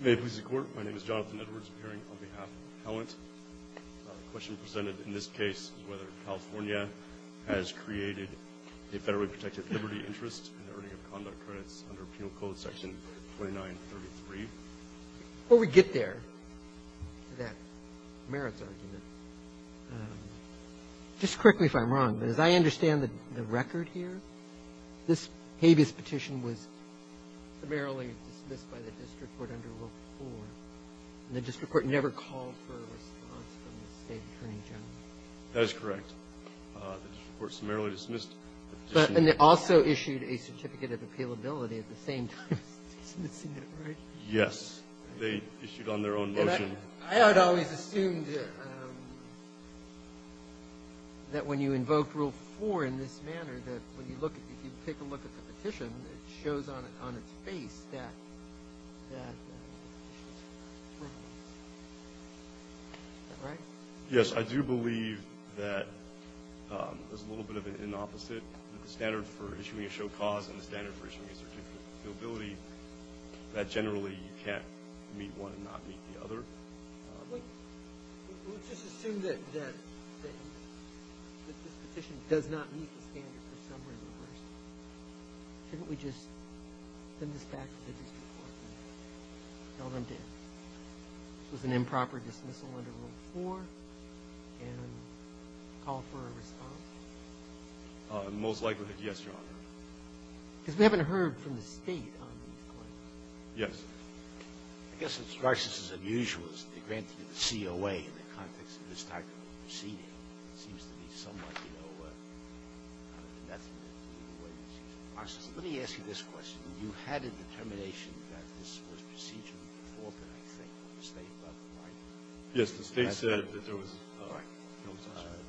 May it please the Court, my name is Jonathan Edwards, appearing on behalf of the Appellant. The question presented in this case is whether California has created a federally protected liberty interest in the earning of conduct credits under Penal Code section 2933. Well, we get there, to that merits argument. Just correct me if I'm wrong, but as I understand the record here, this habeas petition was summarily dismissed by the district court under Rule 4, and the district court never called for a response from the State Attorney General. That is correct. The district court summarily dismissed the petition. But they also issued a certificate of appealability at the same time as dismissing it, right? Yes. They issued on their own motion. And I had always assumed that when you invoke Rule 4 in this manner, that when you look at it, if you take a look at the petition, it shows on its face that that issue is correct. Is that right? Yes, I do believe that there's a little bit of an inopposite, that the standard for issuing a show cause and the standard for issuing a certificate of appealability, that generally you can't meet one and not meet the other. Let's just assume that this petition does not meet the standard for summary reversal. Shouldn't we just send this back to the district court and tell them, this was an improper dismissal under Rule 4 and call for a response? Most likely, yes, Your Honor. Because we haven't heard from the State on these claims. Yes. I guess it strikes us as unusual that they granted it to the COA in the context of this type of proceeding. It seems to me somewhat, you know, unethical in the way this is processed. Let me ask you this question. You had a determination that this was procedurally preformed, I think, by the State, about the writing. Yes. The State said that there was a right.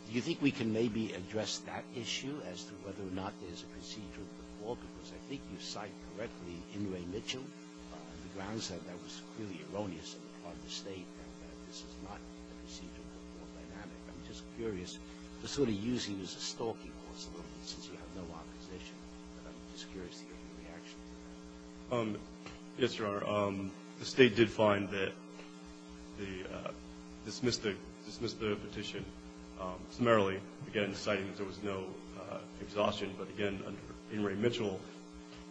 Do you think we can maybe address that issue as to whether or not there's a procedural I think you cite correctly Inouye Mitchell, the grounds that that was clearly erroneous on the State and that this is not procedurally dynamic. I'm just curious. You're sort of using this as a stalking possibility since you have no opposition. But I'm just curious to hear your reaction to that. Yes, Your Honor. The State did find that the dismissed the petition summarily, again, citing that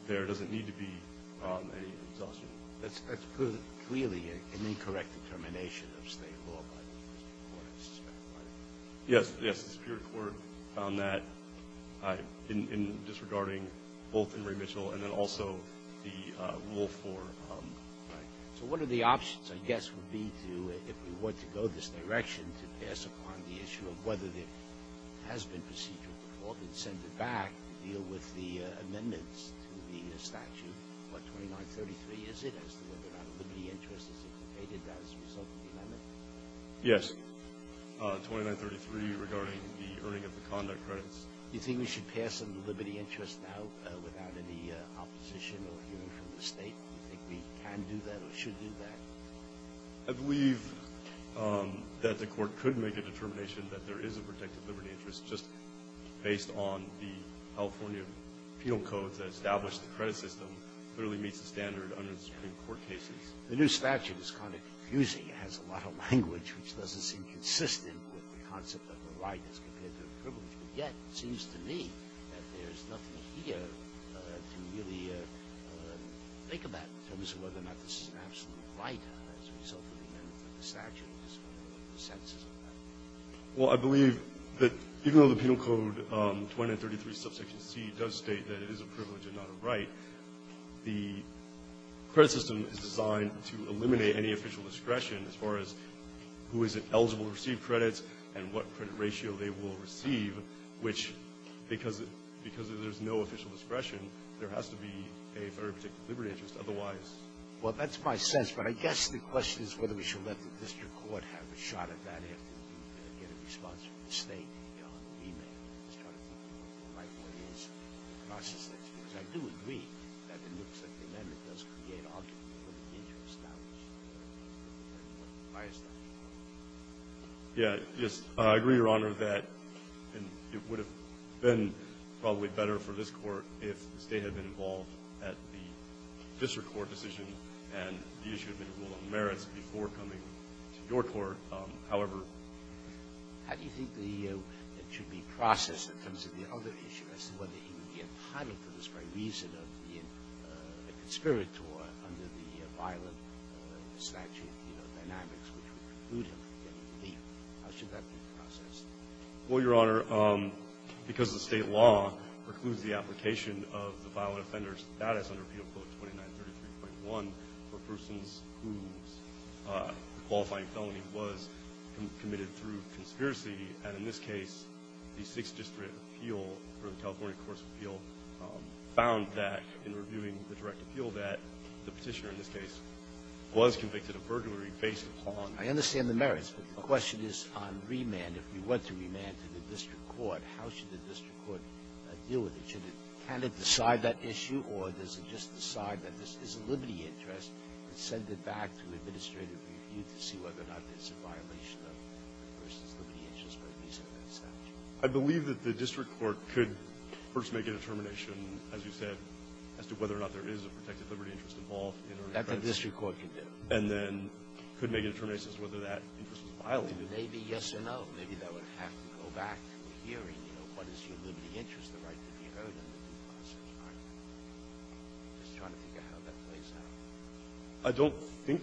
there doesn't need to be any exhaustion. That's clearly an incorrect determination of State law by the Superior Court, I suspect, right? Yes. Yes. The Superior Court found that in disregarding both Inouye Mitchell and then also the rule for Right. So one of the options, I guess, would be to, if we were to go this direction, to pass upon the issue of whether there has been procedural preformed and send it back deal with the amendments to the statute. What, 2933, is it, as to whether or not a liberty interest is inculcated as a result of the amendment? Yes. 2933 regarding the earning of the conduct credits. Do you think we should pass on the liberty interest now without any opposition or hearing from the State? Do you think we can do that or should do that? I believe that the Court could make a determination that there is a protected liberty interest just based on the California penal codes that establish the credit system clearly meets the standard under the Supreme Court cases. The new statute is kind of confusing. It has a lot of language which doesn't seem consistent with the concept of the Right as compared to the privilege. But yet it seems to me that there's nothing here to really think about in terms of whether or not this is an absolute Right as a result of the amendment to the statute. What are the senses of that? Well, I believe that even though the Penal Code 2933, subsection C, does state that it is a privilege and not a Right, the credit system is designed to eliminate any official discretion as far as who is eligible to receive credits and what credit ratio they will receive, which, because there's no official discretion, there has to be a very particular liberty interest. Otherwise ---- Well, that's my sense, but I guess the question is whether we should let the district court have a shot at that after we get a response from the State beyond the remand and start to think about what is the process. Because I do agree that it looks like the amendment does create an opportunity for the interest to be established. Why is that? Yeah. Yes. I agree, Your Honor, that it would have been probably better for this Court if the State had been involved at the district court decision and the issue had been a rule about merits before coming to your court. However ---- How do you think the ---- it should be processed in terms of the other issue as to whether he would be appointed for this very reason of being a conspirator under the violent statute, you know, dynamics which would preclude him from getting a fee? How should that be processed? Well, Your Honor, because the State law precludes the application of the violent offender's status under appeal, quote, 2933.1, for persons whose qualifying felony was committed through conspiracy. And in this case, the Sixth District appeal or the California Courts of Appeal found that, in reviewing the direct appeal, that the Petitioner in this case was convicted of burglary based upon ---- I understand the merits, but the question is on remand. If we want to remand to the district court, how should the district court deal with that? Can it decide that issue, or does it just decide that this is a liberty interest and send it back to administrative review to see whether or not it's a violation of a person's liberty interest by reason of that statute? I believe that the district court could first make a determination, as you said, as to whether or not there is a protected liberty interest involved in order to ---- That the district court could do. And then could make a determination as to whether that interest was violated. Maybe, yes or no. Maybe that would have to go back to the hearing, you know, what is your liberty interest, the right to be heard on a certain part. I'm just trying to figure out how that plays out. I don't think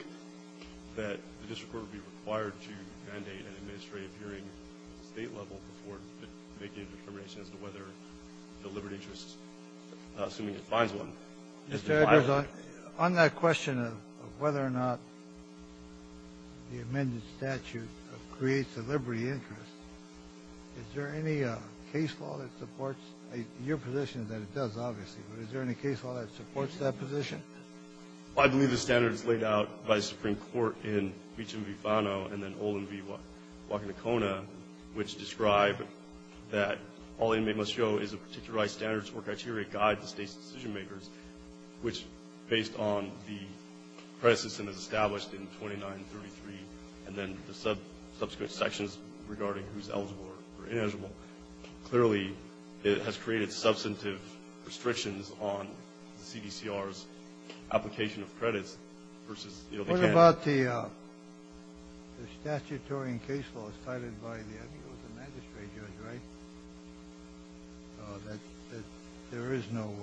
that the district court would be required to mandate an administrative hearing at the State level before making a determination as to whether the liberty interest, assuming it finds one, is violated. So on that question of whether or not the amended statute creates a liberty interest, is there any case law that supports ---- your position is that it does, obviously, but is there any case law that supports that position? I believe the standard is laid out by the Supreme Court in Meacham v. Fano and then Olin v. Wakanakona, which describe that all inmates must show is a particular standardized standards or criteria guide the State's decision-makers, which, based on the premises that is established in 2933 and then the subsequent sections regarding who's eligible or ineligible, clearly has created substantive restrictions on the CDCR's application of credits versus the other candidates. What about the statutory and case laws cited by the advocates and magistrates, right, that there is no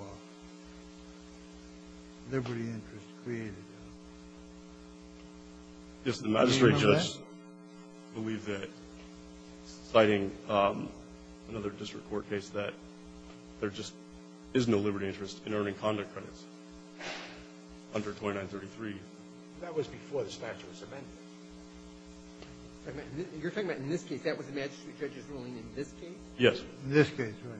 liberty interest created? Yes. The magistrate just believed that, citing another district court case, that there just is no liberty interest in earning conduct credits under 2933. That was before the statute was amended. You're talking about in this case. That was the magistrate judge's ruling in this case? Yes. In this case, right.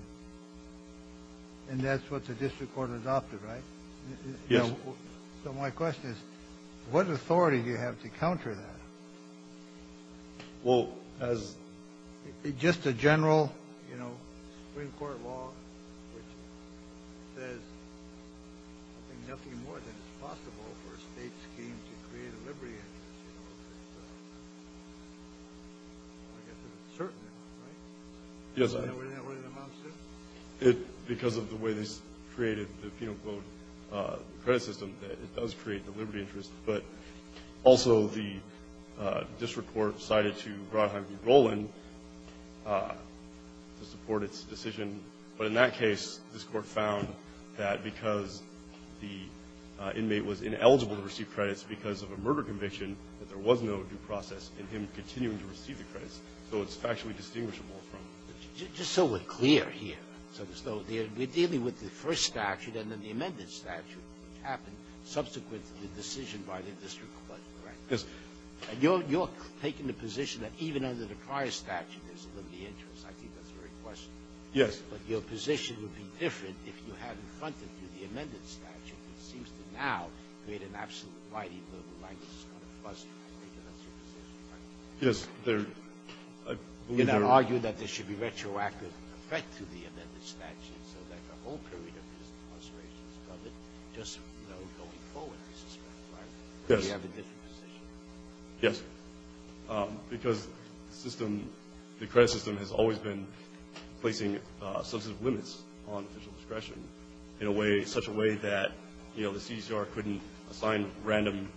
And that's what the district court adopted, right? Yes. So my question is, what authority do you have to counter that? Well, as ---- It's just a general, you know, Supreme Court law that says I think nothing more than is possible for a State scheme to create a liberty interest, you know. I guess there's a certain amount, right? Yes. What does that amount to? Because of the way this created the penal code credit system, it does create the liberty interest. But also the district court cited to Brodheim v. Golan to support its decision. But in that case, this Court found that because the inmate was ineligible to receive credits because of a murder conviction, that there was no due process in him continuing to receive the credits. So it's factually distinguishable from ---- Just so we're clear here, we're dealing with the first statute and then the amended statute. It happened subsequent to the decision by the district court, correct? Yes. And you're taking the position that even under the prior statute there's a liberty interest. I think that's a great question. Yes. But your position would be different if you hadn't fronted through the amended statute. It seems to now create an absolute variety of legal language that's going to frustrate the district court. Yes. They're ---- You're not arguing that there should be retroactive effect to the amended statute so that the whole period of his frustration is covered, just, you know, going forward, I suspect, right? Yes. Because you have a different position. Yes. Because the system, the credit system, has always been placing substantive limits on official discretion in a way, such a way that, you know, the CCR couldn't assign random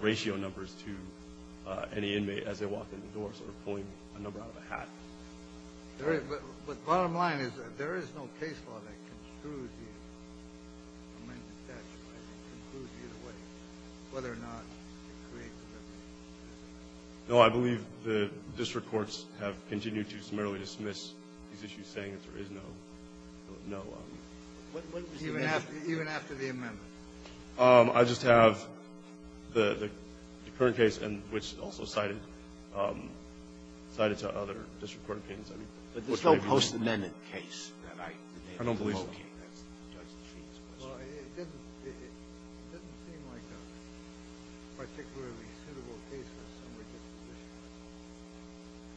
ratio numbers to any inmate as they walked in the door, sort of pulling a number out of a hat. But the bottom line is that there is no case law that construes the amended statute that concludes either way, whether or not it creates a liberty interest. No, I believe the district courts have continued to summarily dismiss these issues saying that there is no ---- Even after the amendment? I just have the current case, which is also cited, cited to other district courts opinions. But there's no post-amendment case that I ---- I don't believe so. Well, it doesn't seem like a particularly suitable case for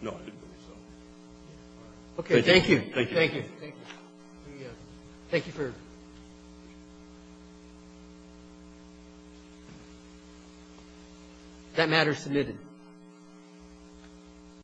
someone to dismiss it. No, I didn't believe so. Okay. Thank you. Thank you. Thank you. Thank you for ---- That matter is submitted.